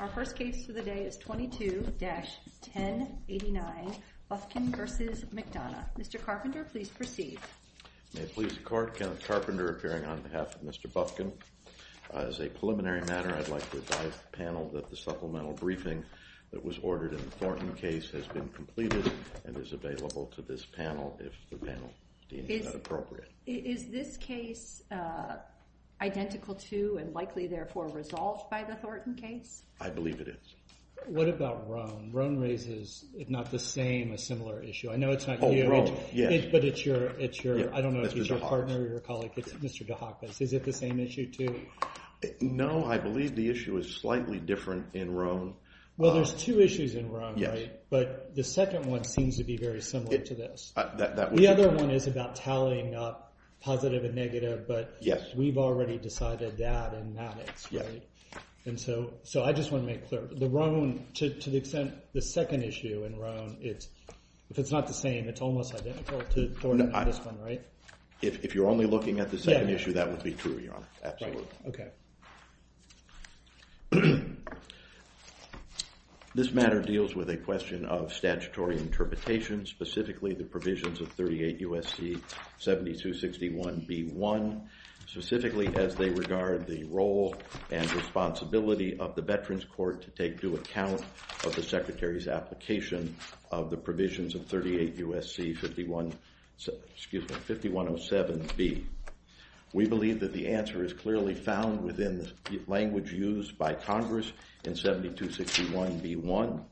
Our first case for the day is 22-1089, Bufkin v. McDonough. Mr. Carpenter, please proceed. May it please the court, Kenneth Carpenter appearing on behalf of Mr. Bufkin. As a preliminary matter, I'd like to advise the panel that the supplemental briefing that was ordered in the Thornton case has been completed and is available to this panel if the panel deems it appropriate. Is this case identical to and likely, therefore, resolved by the Thornton case? I believe it is. What about Roane? Roane raises, if not the same, a similar issue. I know it's not you, but it's your partner or your colleague. It's Mr. DeHakis. Is it the same issue, too? No, I believe the issue is slightly different in Roane. Well, there's two issues in Roane, but the second one seems to be very similar to this. The other one is about tallying up positive and negative, but we've already decided that in Maddox. And so I just want to make clear, the Roane, to the extent the second issue in Roane, if it's not the same, it's almost identical to this one, right? If you're only looking at the second issue, that would be true, Your Honor. Absolutely. OK. This matter deals with a question of statutory interpretation, specifically the provisions of 38 U.S.C. 7261b1, specifically as they regard the role and responsibility of the Veterans Court to take due account of the Secretary's application of the provisions of 38 U.S.C. 5107b. We believe that the answer is clearly found within the language used by Congress in 7261b1.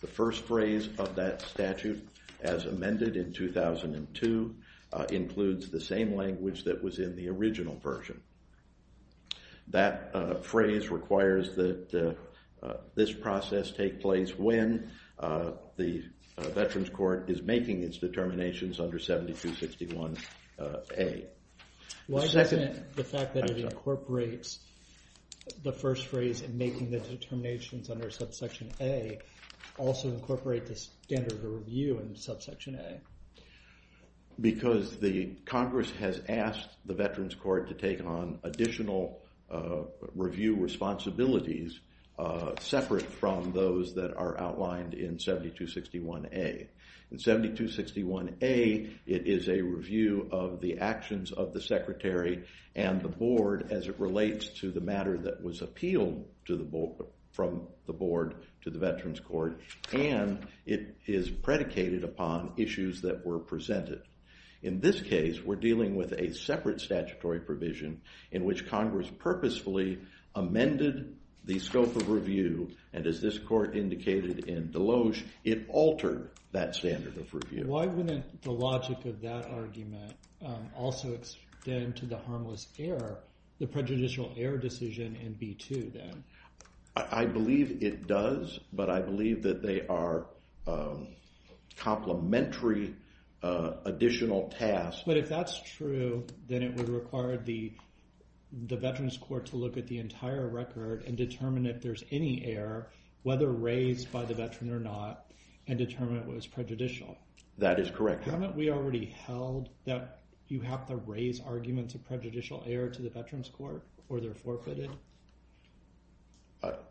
The first phrase of that statute, as amended in 2002, includes the same language that was in the original version. That phrase requires that this process take place when the Veterans Court is making its determinations under 7261a. Why doesn't the fact that it incorporates the first phrase in making the determinations under subsection a also incorporate the standard of review in subsection a? Because the Congress has asked the Veterans Court to take on additional review responsibilities separate from those that are outlined in 7261a. In 7261a, it is a review of the actions of the Secretary and the board as it relates to the matter that was appealed from the board to the Veterans Court. And it is predicated upon issues that were presented. In this case, we're dealing with a separate statutory provision in which Congress purposefully amended the scope of review. And as this court indicated in Deloge, it altered that standard of review. Why wouldn't the logic of that argument also extend to the harmless error, the prejudicial error decision in b2, then? I believe it does. But I believe that they are complementary additional tasks. But if that's true, then it would require the Veterans Court to look at the entire record and determine if there's any error, whether raised by the veteran or not, and determine if it was prejudicial. That is correct. Haven't we already held that you have to raise arguments of prejudicial error to the Veterans Court, or they're forfeited?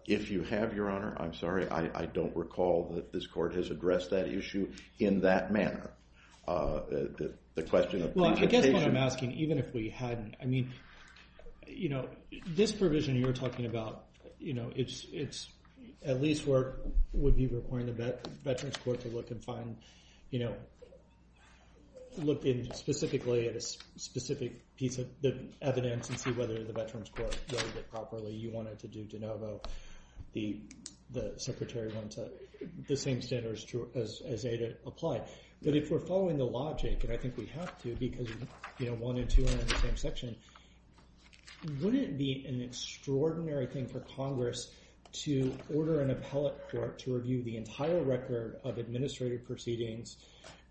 If you have, Your Honor, I'm sorry. I don't recall that this court has addressed that issue in that manner. The question of prejudication. Well, I guess what I'm asking, even if we hadn't, I mean, this provision you're talking about, at least would be requiring the Veterans Court to look and find, look specifically at a specific piece of evidence and see whether the Veterans Court wrote it properly. You wanted to do de novo. The Secretary wants the same standards as ADA apply. But if we're following the logic, and I think we have to because one and two are in the same section, wouldn't it be an extraordinary thing for Congress to order an appellate court to review the entire record of administrative proceedings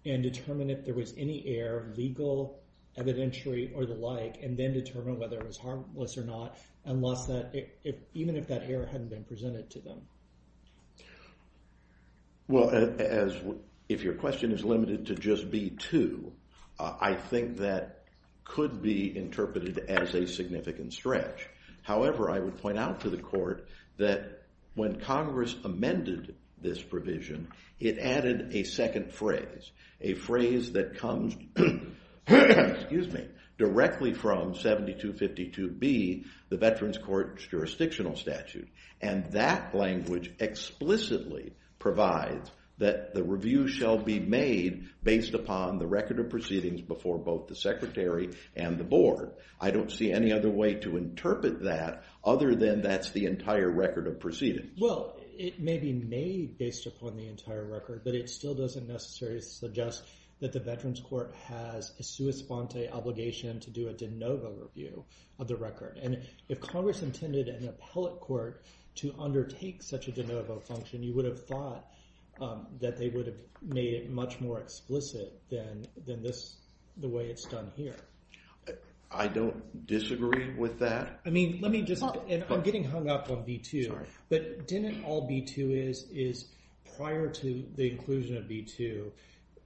and determine if there was any error, legal, evidentiary, or the like, and then determine whether it was harmless or not, even if that error hadn't been presented to them? Well, if your question is limited to just B2, I think that could be interpreted as a significant stretch. However, I would point out to the court that when Congress amended this provision, it added a second phrase, a phrase that comes directly from 7252B, the Veterans Court's jurisdictional statute. And that language explicitly provides that the review shall be made based upon the record of proceedings before both the Secretary and the board. I don't see any other way to interpret that other than that's the entire record of proceedings. Well, it may be made based upon the entire record, but it still doesn't necessarily suggest that the Veterans Court has a sua sponte obligation to do a de novo review of the record. And if Congress intended an appellate court to undertake such a de novo function, you would have thought that they would have made it much more explicit than the way it's done here. I don't disagree with that. I mean, let me just, and I'm getting hung up on B2, but didn't all B2 is, is prior to the inclusion of B2,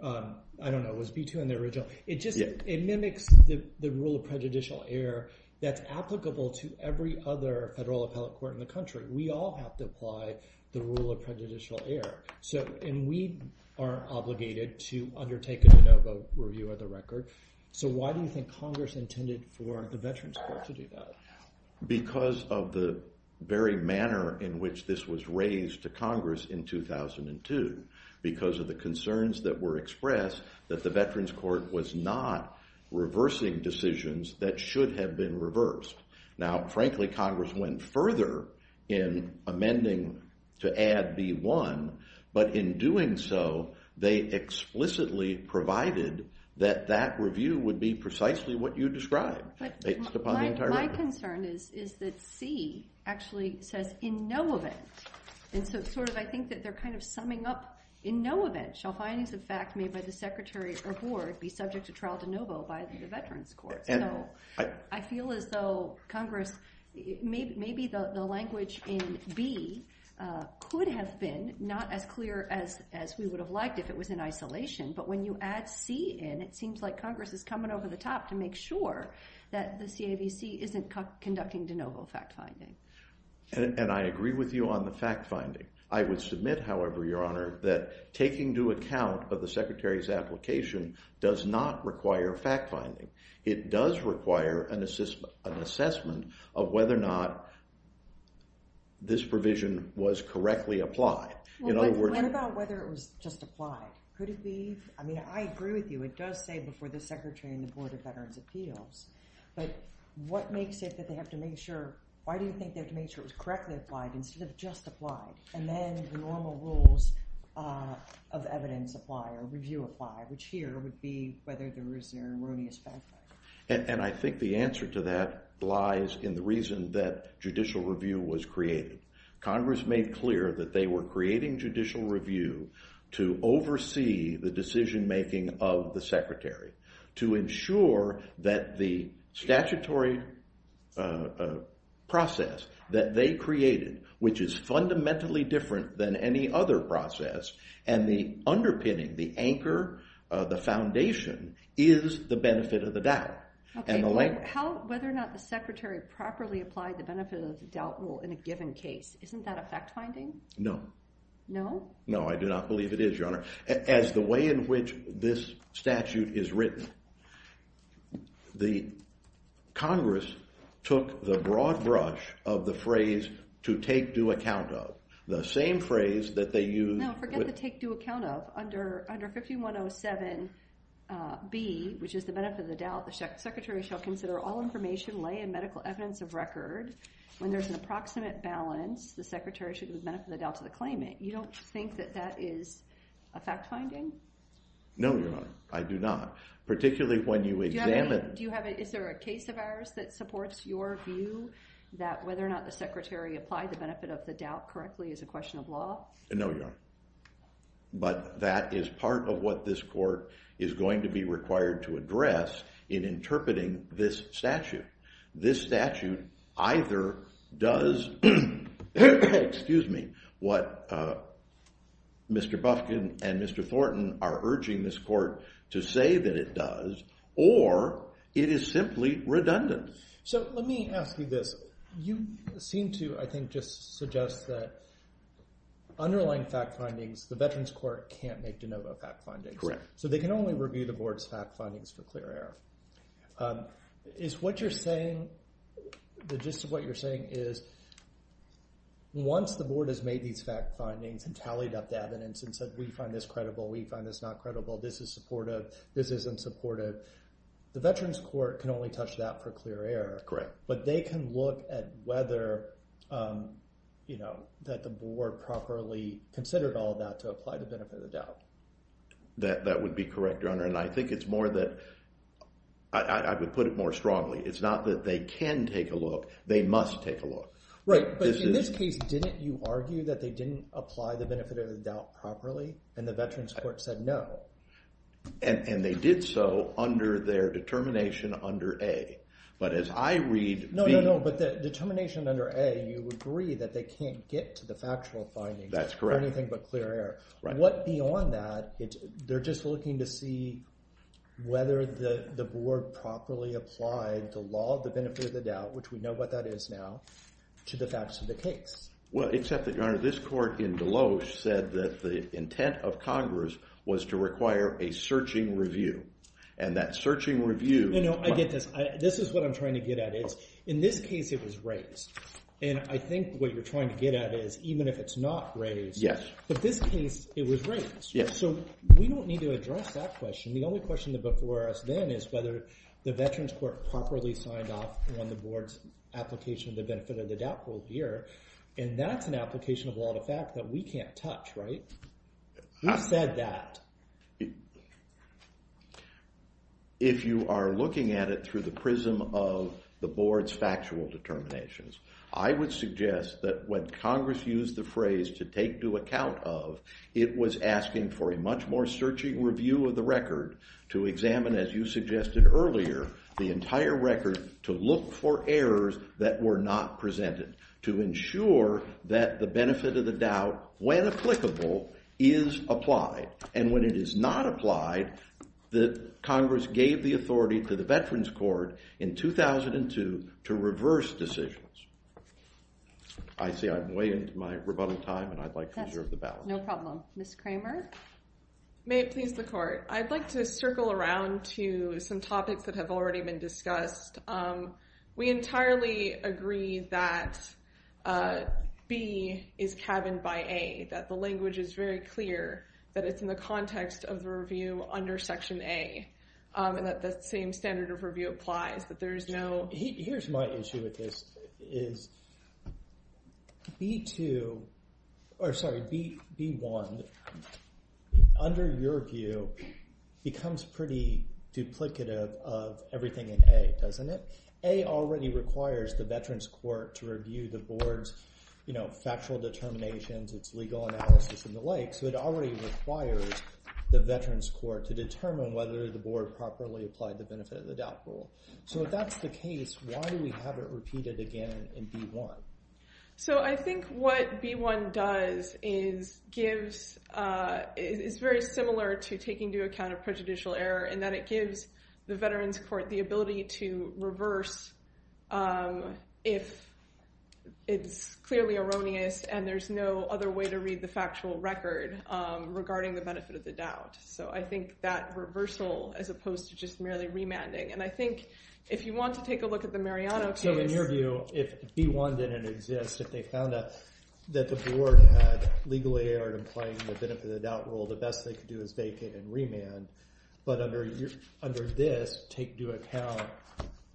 I don't know, was B2 in the original? It mimics the rule of prejudicial error that's applicable to every other federal appellate court in the country. We all have to apply the rule of prejudicial error. And we are obligated to undertake a de novo review of the record. So why do you think Congress intended for the Veterans Court to do that? Because of the very manner in which this was raised to Congress in 2002. Because of the concerns that were expressed that the Veterans Court was not reversing decisions that should have been reversed. Now, frankly, Congress went further in amending to add B1. But in doing so, they explicitly provided that that review would be precisely what you described. My concern is that C actually says, in no event. And so I think that they're kind of summing up, in no event shall findings of fact made by the secretary or board be subject to trial de novo by the Veterans Court. I feel as though Congress, maybe the language in B could have been not as clear as we would have liked if it was in isolation. But when you add C in, it seems like Congress is coming over the top to make sure that the CAVC isn't conducting de novo fact finding. And I agree with you on the fact finding. I would submit, however, Your Honor, that taking into account of the secretary's application does not require fact finding. It does require an assessment of whether or not this provision was correctly applied. In other words, What about whether it was just applied? Could it be? I mean, I agree with you. It does say, before the secretary and the Board of Veterans' Appeals. But what makes it that they have to make sure? Why do you think they have to make sure it was correctly applied instead of just applied? And then normal rules of evidence apply, or review apply, which here would be whether there is an erroneous fact finding. And I think the answer to that lies in the reason that judicial review was created. Congress made clear that they were creating judicial review to oversee the decision making of the secretary, to ensure that the statutory process that they created, which is fundamentally different than any other process, and the underpinning, the anchor, the foundation, is the benefit of the doubt. Whether or not the secretary properly applied the benefit of the doubt rule in a given case, isn't that a fact finding? No. No? No, I do not believe it is, Your Honor. As the way in which this statute is written, the Congress took the broad brush of the phrase to take due account of. The same phrase that they used with- No, forget the take due account of. Under 5107B, which is the benefit of the doubt, the secretary shall consider all information, lay, and medical evidence of record. When there's an approximate balance, the secretary should give the benefit of the doubt to the claimant. You don't think that that is a fact finding? No, Your Honor. I do not. Particularly when you examine- Do you have a- is there a case of ours that supports your view that whether or not the secretary applied the benefit of the doubt correctly is a question of law? No, Your Honor. But that is part of what this court is going to be required to address in interpreting this statute. This statute either does- excuse me- what Mr. Bufkin and Mr. Thornton are urging this court to say that it does, or it is simply redundant. So let me ask you this. You seem to, I think, just suggest that underlying fact findings, the Veterans Court can't make de novo fact findings. So they can only review the board's fact findings for clear error. Is what you're saying, the gist of what you're saying is once the board has made these fact findings and tallied up the evidence and said, we find this credible, we find this not credible, this is supportive, this isn't supportive, the Veterans Court can only touch that for clear error. Correct. But they can look at whether that the board properly considered all that to apply the benefit of the doubt. That would be correct, Your Honor. And I think it's more that- I would put it more strongly. It's not that they can take a look. They must take a look. Right, but in this case, didn't you argue that they didn't apply the benefit of the doubt properly? And the Veterans Court said, no. And they did so under their determination under A. But as I read B- No, no, no. But the determination under A, you agree that they can't get to the factual findings for anything but clear error. What, beyond that, they're just looking to see whether the board properly applied the law of the benefit of the doubt, which we know what that is now, to the facts of the case. Well, except that, Your Honor, this court in Deloes said that the intent of Congress was to require a searching review. And that searching review- No, no, I get this. This is what I'm trying to get at. In this case, it was raised. And I think what you're trying to get at is, even if it's not raised, but this case, it was raised. So we don't need to address that question. The only question before us then is whether the Veterans Court properly signed off on the board's application of the benefit of the doubt rule here. And that's an application of law of the fact that we can't touch, right? Who said that? If you are looking at it through the prism of the board's factual determinations, I would suggest that when Congress used the phrase to take due account of, it was asking for a much more searching review of the record to examine, as you suggested earlier, the entire record to look for errors that were not presented, to ensure that the benefit of the doubt, when applicable, is applied. And when it is not applied, Congress gave the authority to the Veterans Court in 2002 to reverse decisions. I see I'm way into my rebuttal time, and I'd like to reserve the ballot. No problem. Ms. Kramer? May it please the court. I'd like to circle around to some topics that have already been discussed. We entirely agree that B is cabined by A, that the language is very clear, that it's in the context of the review under Section A, and that the same standard of review applies, that there is no. Here's my issue with this, is B1, under your view, becomes pretty duplicative of everything in A, doesn't it? A already requires the Veterans Court to review the board's factual determinations, its legal analysis, and the like. So it already requires the Veterans Court to determine whether the board properly applied the benefit of the doubt rule. So if that's the case, why do we have it repeated again in B1? So I think what B1 does is very similar to taking into account a prejudicial error, in that it gives the Veterans Court the ability to reverse if it's clearly erroneous, and there's no other way to read the factual record regarding the benefit of the doubt. So I think that reversal, as opposed to just merely remanding. And I think if you want to take a look at the Mariano case. In your view, if B1 didn't exist, if they found out that the board had legally erred in playing the benefit of the doubt rule, the best they could do is vacate and remand. But under this, take into account,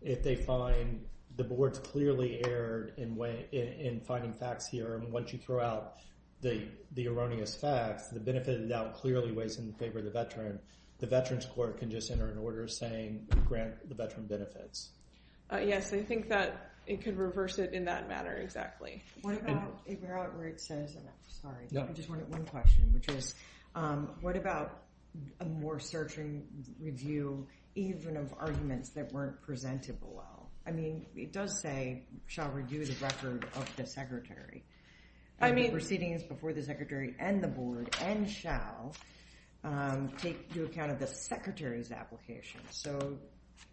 if they find the board's clearly erred in finding facts here, and once you throw out the erroneous facts, the benefit of the doubt clearly weighs in favor of the veteran, the Veterans Court can just enter an order saying, grant the veteran benefits. Yes, I think that it could reverse it in that manner, exactly. What about where it says, sorry, I just wanted one question, which is, what about a more certain review, even of arguments that weren't presented below? I mean, it does say, shall review the record of the secretary. I mean, proceedings before the secretary and the board, and shall, take into account of the secretary's application. So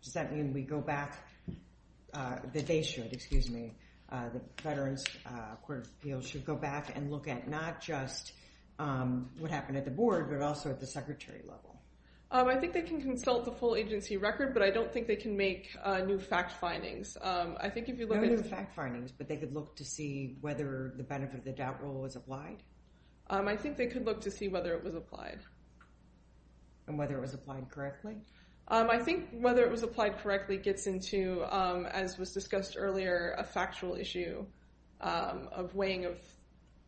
does that mean we go back, that they should, excuse me, the Veterans Court of Appeals should go back and look at not just what happened at the board, but also at the secretary level? I think they can consult the full agency record, but I don't think they can make new fact findings. I think if you look at the fact findings, but they could look to see whether the benefit of the doubt rule was applied? I think they could look to see whether it was applied. And whether it was applied correctly? I think whether it was applied correctly gets into, as was discussed earlier, a factual issue of weighing of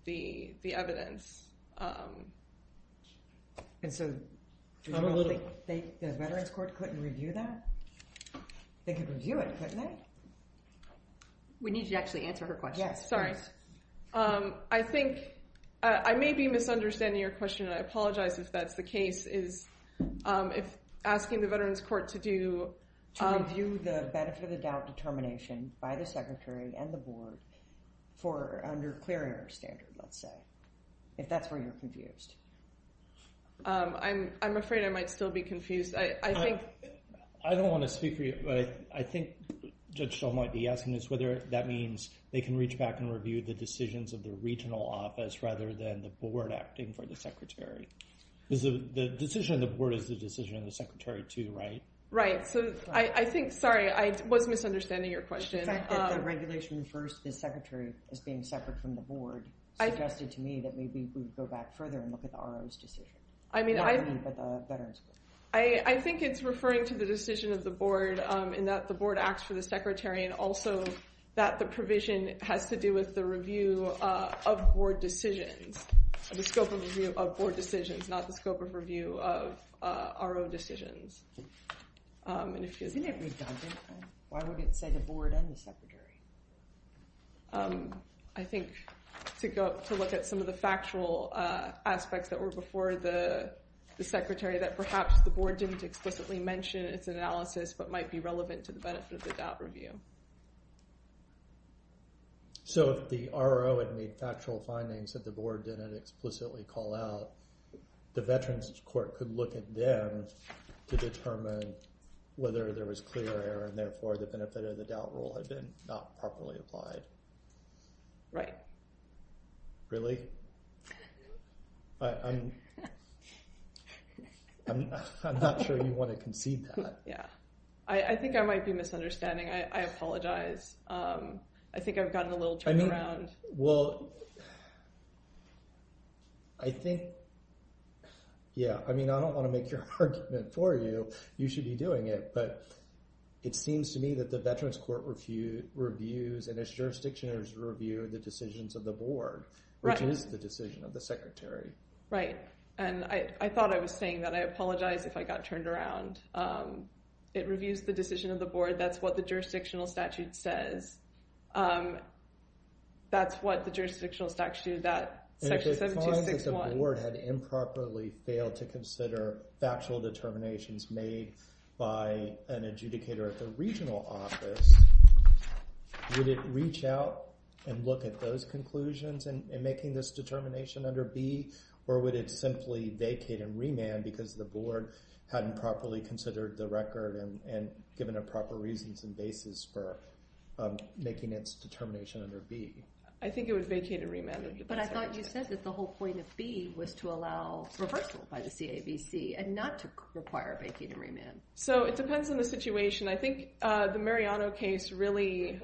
the evidence. And so the Veterans Court couldn't review that? They could review it, couldn't they? We need you to actually answer her question. Sorry. I think I may be misunderstanding your question, and I apologize if that's the case, is if asking the Veterans Court to do To review the benefit of the doubt determination by the secretary and the board for under clear air standard, let's say. If that's where you're confused. I'm afraid I might still be confused. I think. I don't want to speak for you, but I think Judge Shull might be asking this, whether that means they can reach back and review the decisions of the regional office rather than the board acting for the secretary. The decision of the board is the decision of the secretary, too, right? Right. I think, sorry, I was misunderstanding your question. The fact that the regulation refers to the secretary as being separate from the board suggested to me that maybe we would go back further and look at the RO's decision. I mean, I think it's referring to the decision of the board in that the board acts for the secretary, and also that the provision has to do with the review of board decisions, the scope of review of board decisions, not the scope of review of RO decisions. Isn't it redundant? Why would it say the board and the secretary? I think to look at some of the factual aspects that were before the secretary, that perhaps the board didn't explicitly mention its analysis, but might be relevant to the benefit of the doubt review. So if the RO had made factual findings that the board didn't explicitly call out, the Veterans Court could look at them to determine whether there was clear error, and therefore, the benefit of the doubt rule had been not properly applied. Right. Really? I'm not sure you want to concede that. Yeah. I think I might be misunderstanding. I apologize. I think I've gotten a little turned around. Well, I think, yeah. I mean, I don't want to make your argument for you. You should be doing it. But it seems to me that the Veterans Court reviews, and its jurisdictions review, the decisions of the board, which is the decision of the secretary. Right. And I thought I was saying that. I apologize if I got turned around. It reviews the decision of the board. That's what the jurisdictional statute says. That's what the jurisdictional statute, that section 7261. And if it finds that the board had improperly failed to consider factual determinations made by an adjudicator at the regional office, would it reach out and look at those conclusions in making this determination under B? Or would it simply vacate and remand because the board hadn't properly considered the record and given a proper reasons and basis for making its determination under B? I think it would vacate and remand. But I thought you said that the whole point of B was to allow reversal by the CAVC and not to require vacating and remand. So it depends on the situation. I think the Mariano case really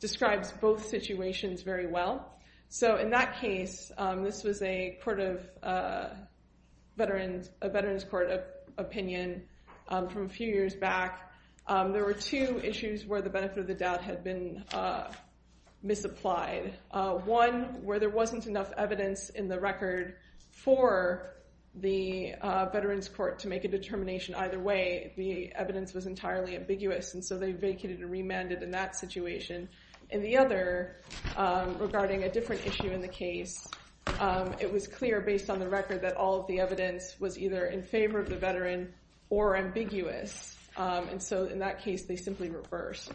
describes both situations very well. So in that case, this was a Veterans Court opinion from a few years back. There were two issues where the benefit of the doubt had been misapplied. One, where there wasn't enough evidence in the record for the Veterans Court to make a determination either way. The evidence was entirely ambiguous. And so they vacated and remanded in that situation. And the other, regarding a different issue in the case, it was clear based on the record that all of the evidence was either in favor of the veteran or ambiguous. And so in that case, they simply reversed.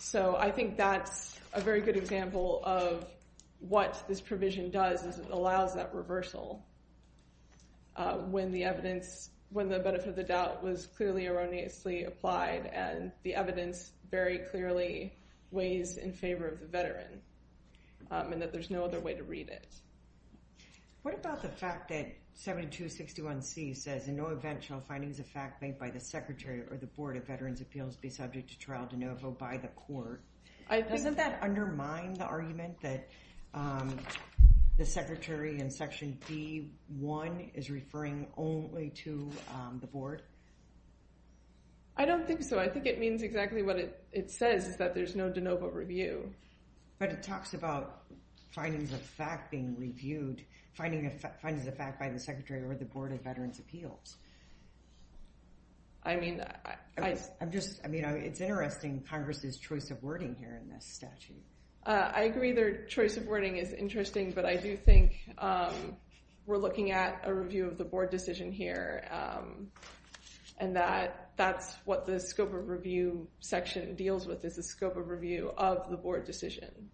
So I think that's a very good example of what this provision does is it allows that reversal when the benefit of the doubt was clearly erroneously applied and the evidence very clearly weighs in favor of the veteran and that there's no other way to read it. What about the fact that 7261C says, in no eventual findings of fact made by the Secretary or the Board of Veterans' Appeals be subject to trial de novo by the Court? Doesn't that undermine the argument that the Secretary in Section D1 is referring only to the Board? I don't think so. I think it means exactly what it says is that there's no de novo review. But it talks about findings of fact being reviewed, findings of fact by the Secretary or the Board of Veterans' Appeals. I mean, I'm just, I mean, it's interesting Congress's choice of wording here in this statute. I agree their choice of wording is interesting, but I do think we're looking at a review of the Board decision here and that that's what the scope of review section deals with is the scope of review of the Board decision.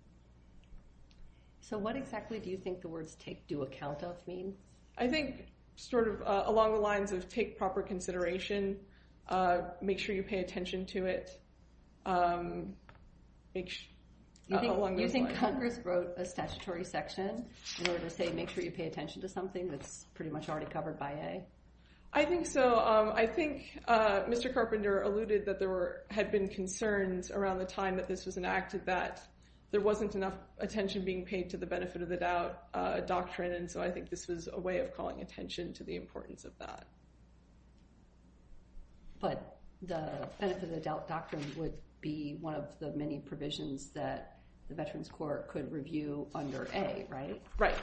So what exactly do you think the words take due account of mean? I think sort of along the lines of take proper consideration, make sure you pay attention to it, along those lines. You think Congress wrote a statutory section in order to say make sure you pay attention to something that's pretty much already covered by A? I think so. I think Mr. Carpenter alluded that there was a lot of evidence around the time that this was enacted that there wasn't enough attention being paid to the benefit of the doubt doctrine. And so I think this was a way of calling attention to the importance of that. But the benefit of the doubt doctrine would be one of the many provisions that the Veterans Court could review under A, right? Right.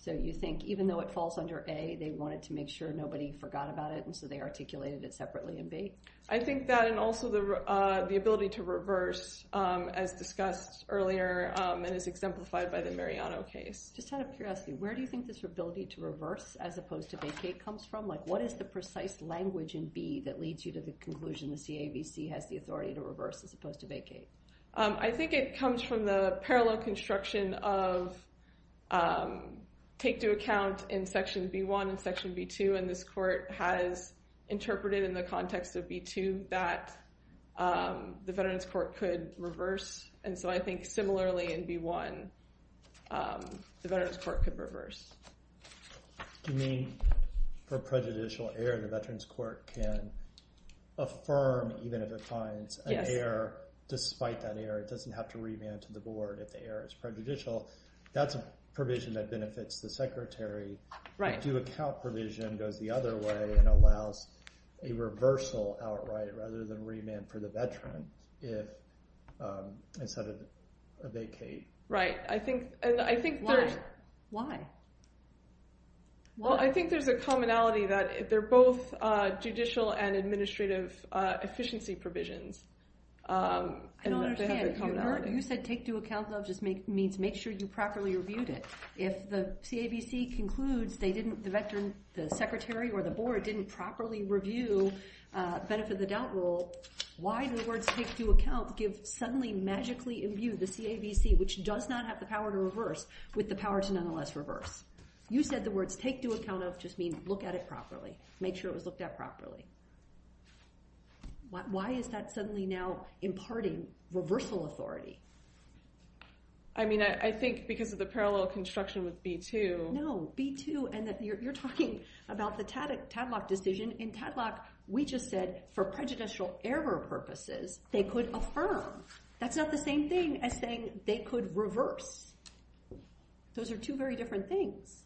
So you think even though it falls under A, they wanted to make sure nobody forgot about it, and so they articulated it separately in B? I think that and also the ability to reverse, as discussed earlier and as exemplified by the Mariano case. Just out of curiosity, where do you think this ability to reverse as opposed to vacate comes from? What is the precise language in B that leads you to the conclusion the CAVC has the authority to reverse as opposed to vacate? I think it comes from the parallel construction of take due account in section B1 and section B2. And this court has interpreted in the context of B2 that the Veterans Court could reverse. And so I think similarly in B1, the Veterans Court could reverse. You mean for prejudicial error, the Veterans Court can affirm even if it finds an error despite that error. It doesn't have to remand to the board if the error is prejudicial. That's a provision that benefits the secretary. The due account provision goes the other way and allows a reversal outright rather than remand for the veteran if instead of a vacate. Right, and I think there's a commonality that they're both judicial and administrative efficiency provisions. I don't understand. You said take due account, though, just means make sure you properly reviewed it. If the CAVC concludes the secretary or the board didn't properly review benefit of the doubt rule, why do the words take due account give suddenly magically imbued the CAVC, which does not have the power to reverse, with the power to nonetheless reverse? You said the words take due account of just means look at it properly. Make sure it was looked at properly. Why is that suddenly now imparting reversal authority? I mean, I think because of the parallel construction with B-2. No, B-2. And you're talking about the Tadlock decision. In Tadlock, we just said for prejudicial error purposes, they could affirm. That's not the same thing as saying they could reverse. Those are two very different things.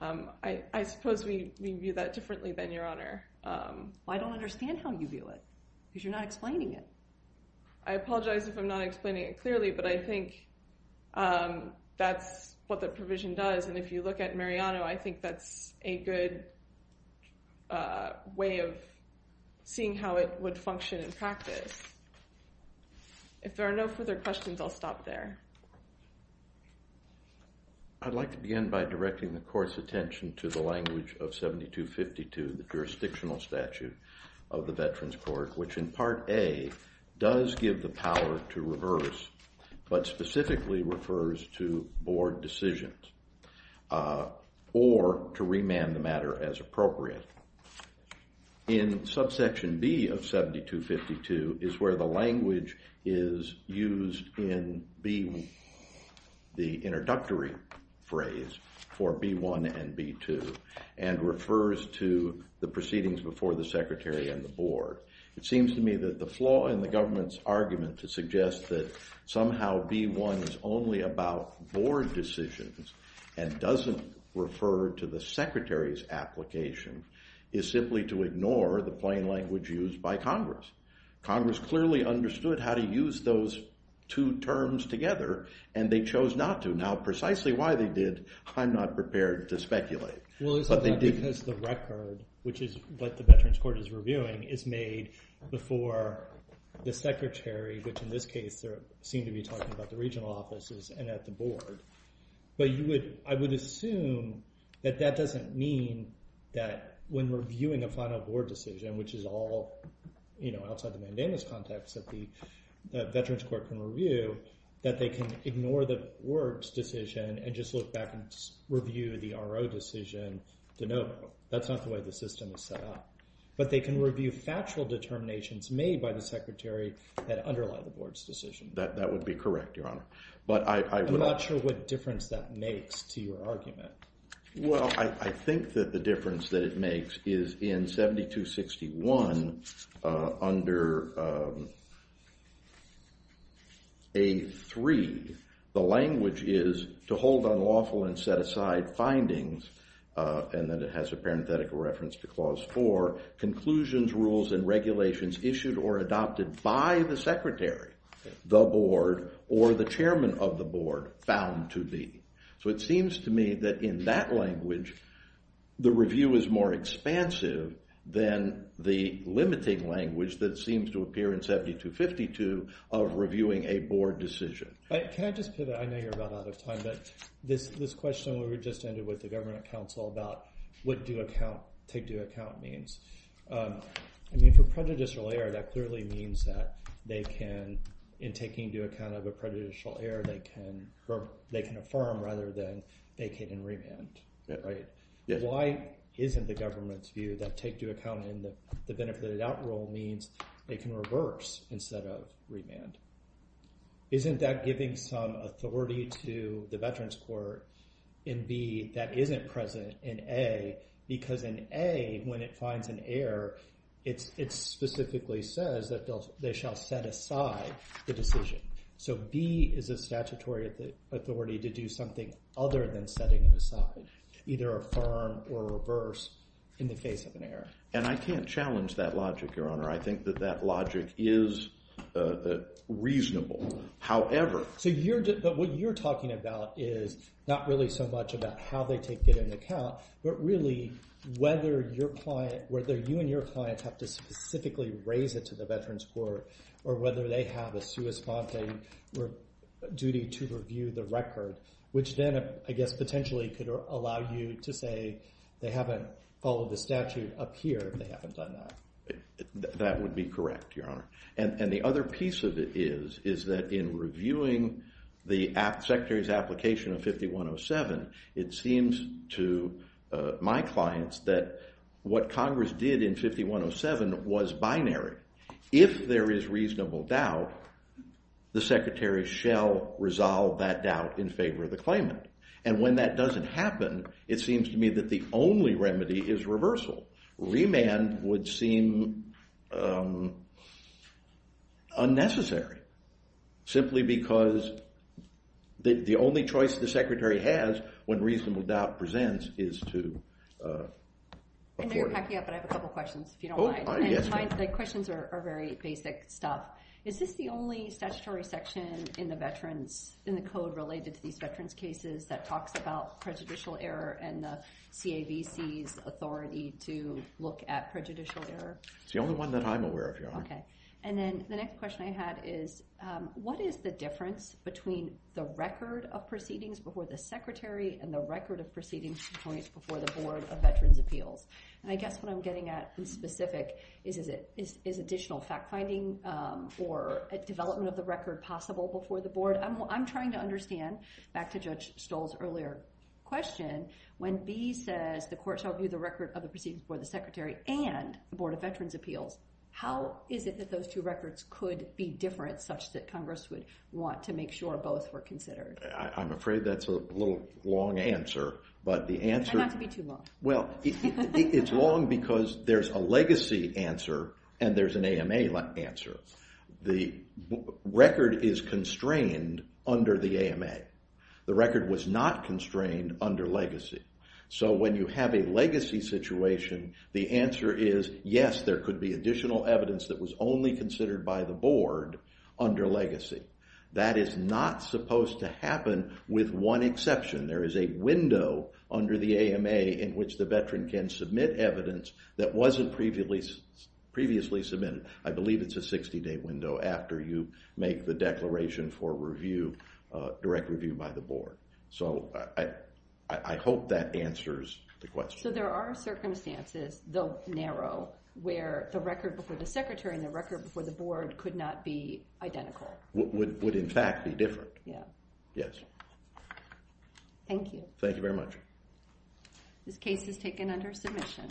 I suppose we view that differently than your honor. I don't understand how you view it, because you're not explaining it. I apologize if I'm not explaining it clearly, but I think that's what the provision does. And if you look at Mariano, I think that's a good way of seeing how it would function in practice. If there are no further questions, I'll stop there. I'd like to begin by directing the court's attention to the language of 7252, the jurisdictional statute of the Veterans Court, which in part A does give the power to reverse, but specifically refers to board decisions or to remand the matter as appropriate. In subsection B of 7252 is where the language is used in the introductory phrase for B-1 and B-2 and the board. It seems to me that the flaw in the government's argument to suggest that somehow B-1 is only about board decisions and doesn't refer to the secretary's application is simply to ignore the plain language used by Congress. Congress clearly understood how to use those two terms together, and they chose not to. Now precisely why they did, I'm not prepared to speculate. Well, it's not because the record, which is what the Veterans Court is reviewing, is made before the secretary, which in this case they seem to be talking about the regional offices and at the board. But I would assume that that doesn't mean that when reviewing a final board decision, which is all outside the mandamus context that the Veterans Court can review, that they can ignore the board's decision and just look back and review the RO decision de novo. That's not the way the system is set up. But they can review factual determinations made by the secretary that underlie the board's decision. That would be correct, Your Honor. But I would not. I'm not sure what difference that makes to your argument. Well, I think that the difference that it makes is in 7261, under A3, the language is to hold unlawful and set aside findings. And then it has a parenthetical reference to Clause 4, conclusions, rules, and regulations issued or adopted by the secretary, the board, or the chairman of the board, bound to be. So it seems to me that in that language, the review is more expansive than the limiting language that seems to appear in 7252 of reviewing a board decision. Can I just pivot? I know you're about out of time. But this question we just ended with the government council about what take due account means. I mean, for prejudicial error, that clearly means that they can, in taking due account of a prejudicial error, they can affirm rather than they can remand. Why isn't the government's view that take due account in the benefited out rule means they can reverse instead of remand? Isn't that giving some authority to the Veterans Court in B that isn't present in A? Because in A, when it finds an error, it specifically says that they shall set aside the decision. So B is a statutory authority to do something other than setting it aside, either affirm or reverse in the case of an error. And I can't challenge that logic, Your Honor. I think that that logic is reasonable. However, So what you're talking about is not really so much about how they take due account, but really whether you and your client have to specifically raise it to the Veterans Court or whether they have a sua sponte duty to review the record, which then, I guess, potentially could allow you to say they haven't followed the statute up here and they haven't done that. That would be correct, Your Honor. And the other piece of it is that in reviewing the secretary's application of 5107, it seems to my clients that what Congress did in 5107 was binary. If there is reasonable doubt, the secretary shall resolve that doubt in favor of the claimant. And when that doesn't happen, it seems to me that the only remedy is reversal. Remand would seem unnecessary, simply because the only choice the secretary has when reasonable doubt presents is to afford it. And then to back you up, I have a couple questions if you don't mind. The questions are very basic stuff. Is this the only statutory section in the code related to these veterans cases that talks about prejudicial error and the CAVC's authority to look at prejudicial error? It's the only one that I'm aware of, Your Honor. And then the next question I had is, what is the difference between the record of proceedings before the secretary and the record of proceedings before the Board of Veterans' Appeals? And I guess what I'm getting at in specific is, is additional fact finding or development of the record possible before the board? I'm trying to understand, back to Judge Stoll's earlier question, when B says the court shall view the record of the proceedings before the secretary and the Board of Veterans' Appeals, how is it that those two records could be different such that Congress would want to make sure both were considered? I'm afraid that's a little long answer. But the answer is long because there's a legacy answer and there's an AMA answer. The record is constrained under the AMA. The record was not constrained under legacy. So when you have a legacy situation, the answer is, yes, there could be additional evidence that was only considered by the board under legacy. That is not supposed to happen with one exception. There is a window under the AMA in which the veteran can submit evidence that wasn't previously submitted. I believe it's a 60-day window after you make the declaration for review, direct review by the board. So I hope that answers the question. So there are circumstances, though narrow, where the record before the secretary and the record before the board could not be identical. Would, in fact, be different. Yeah. Yes. Thank you. Thank you very much. This case is taken under submission.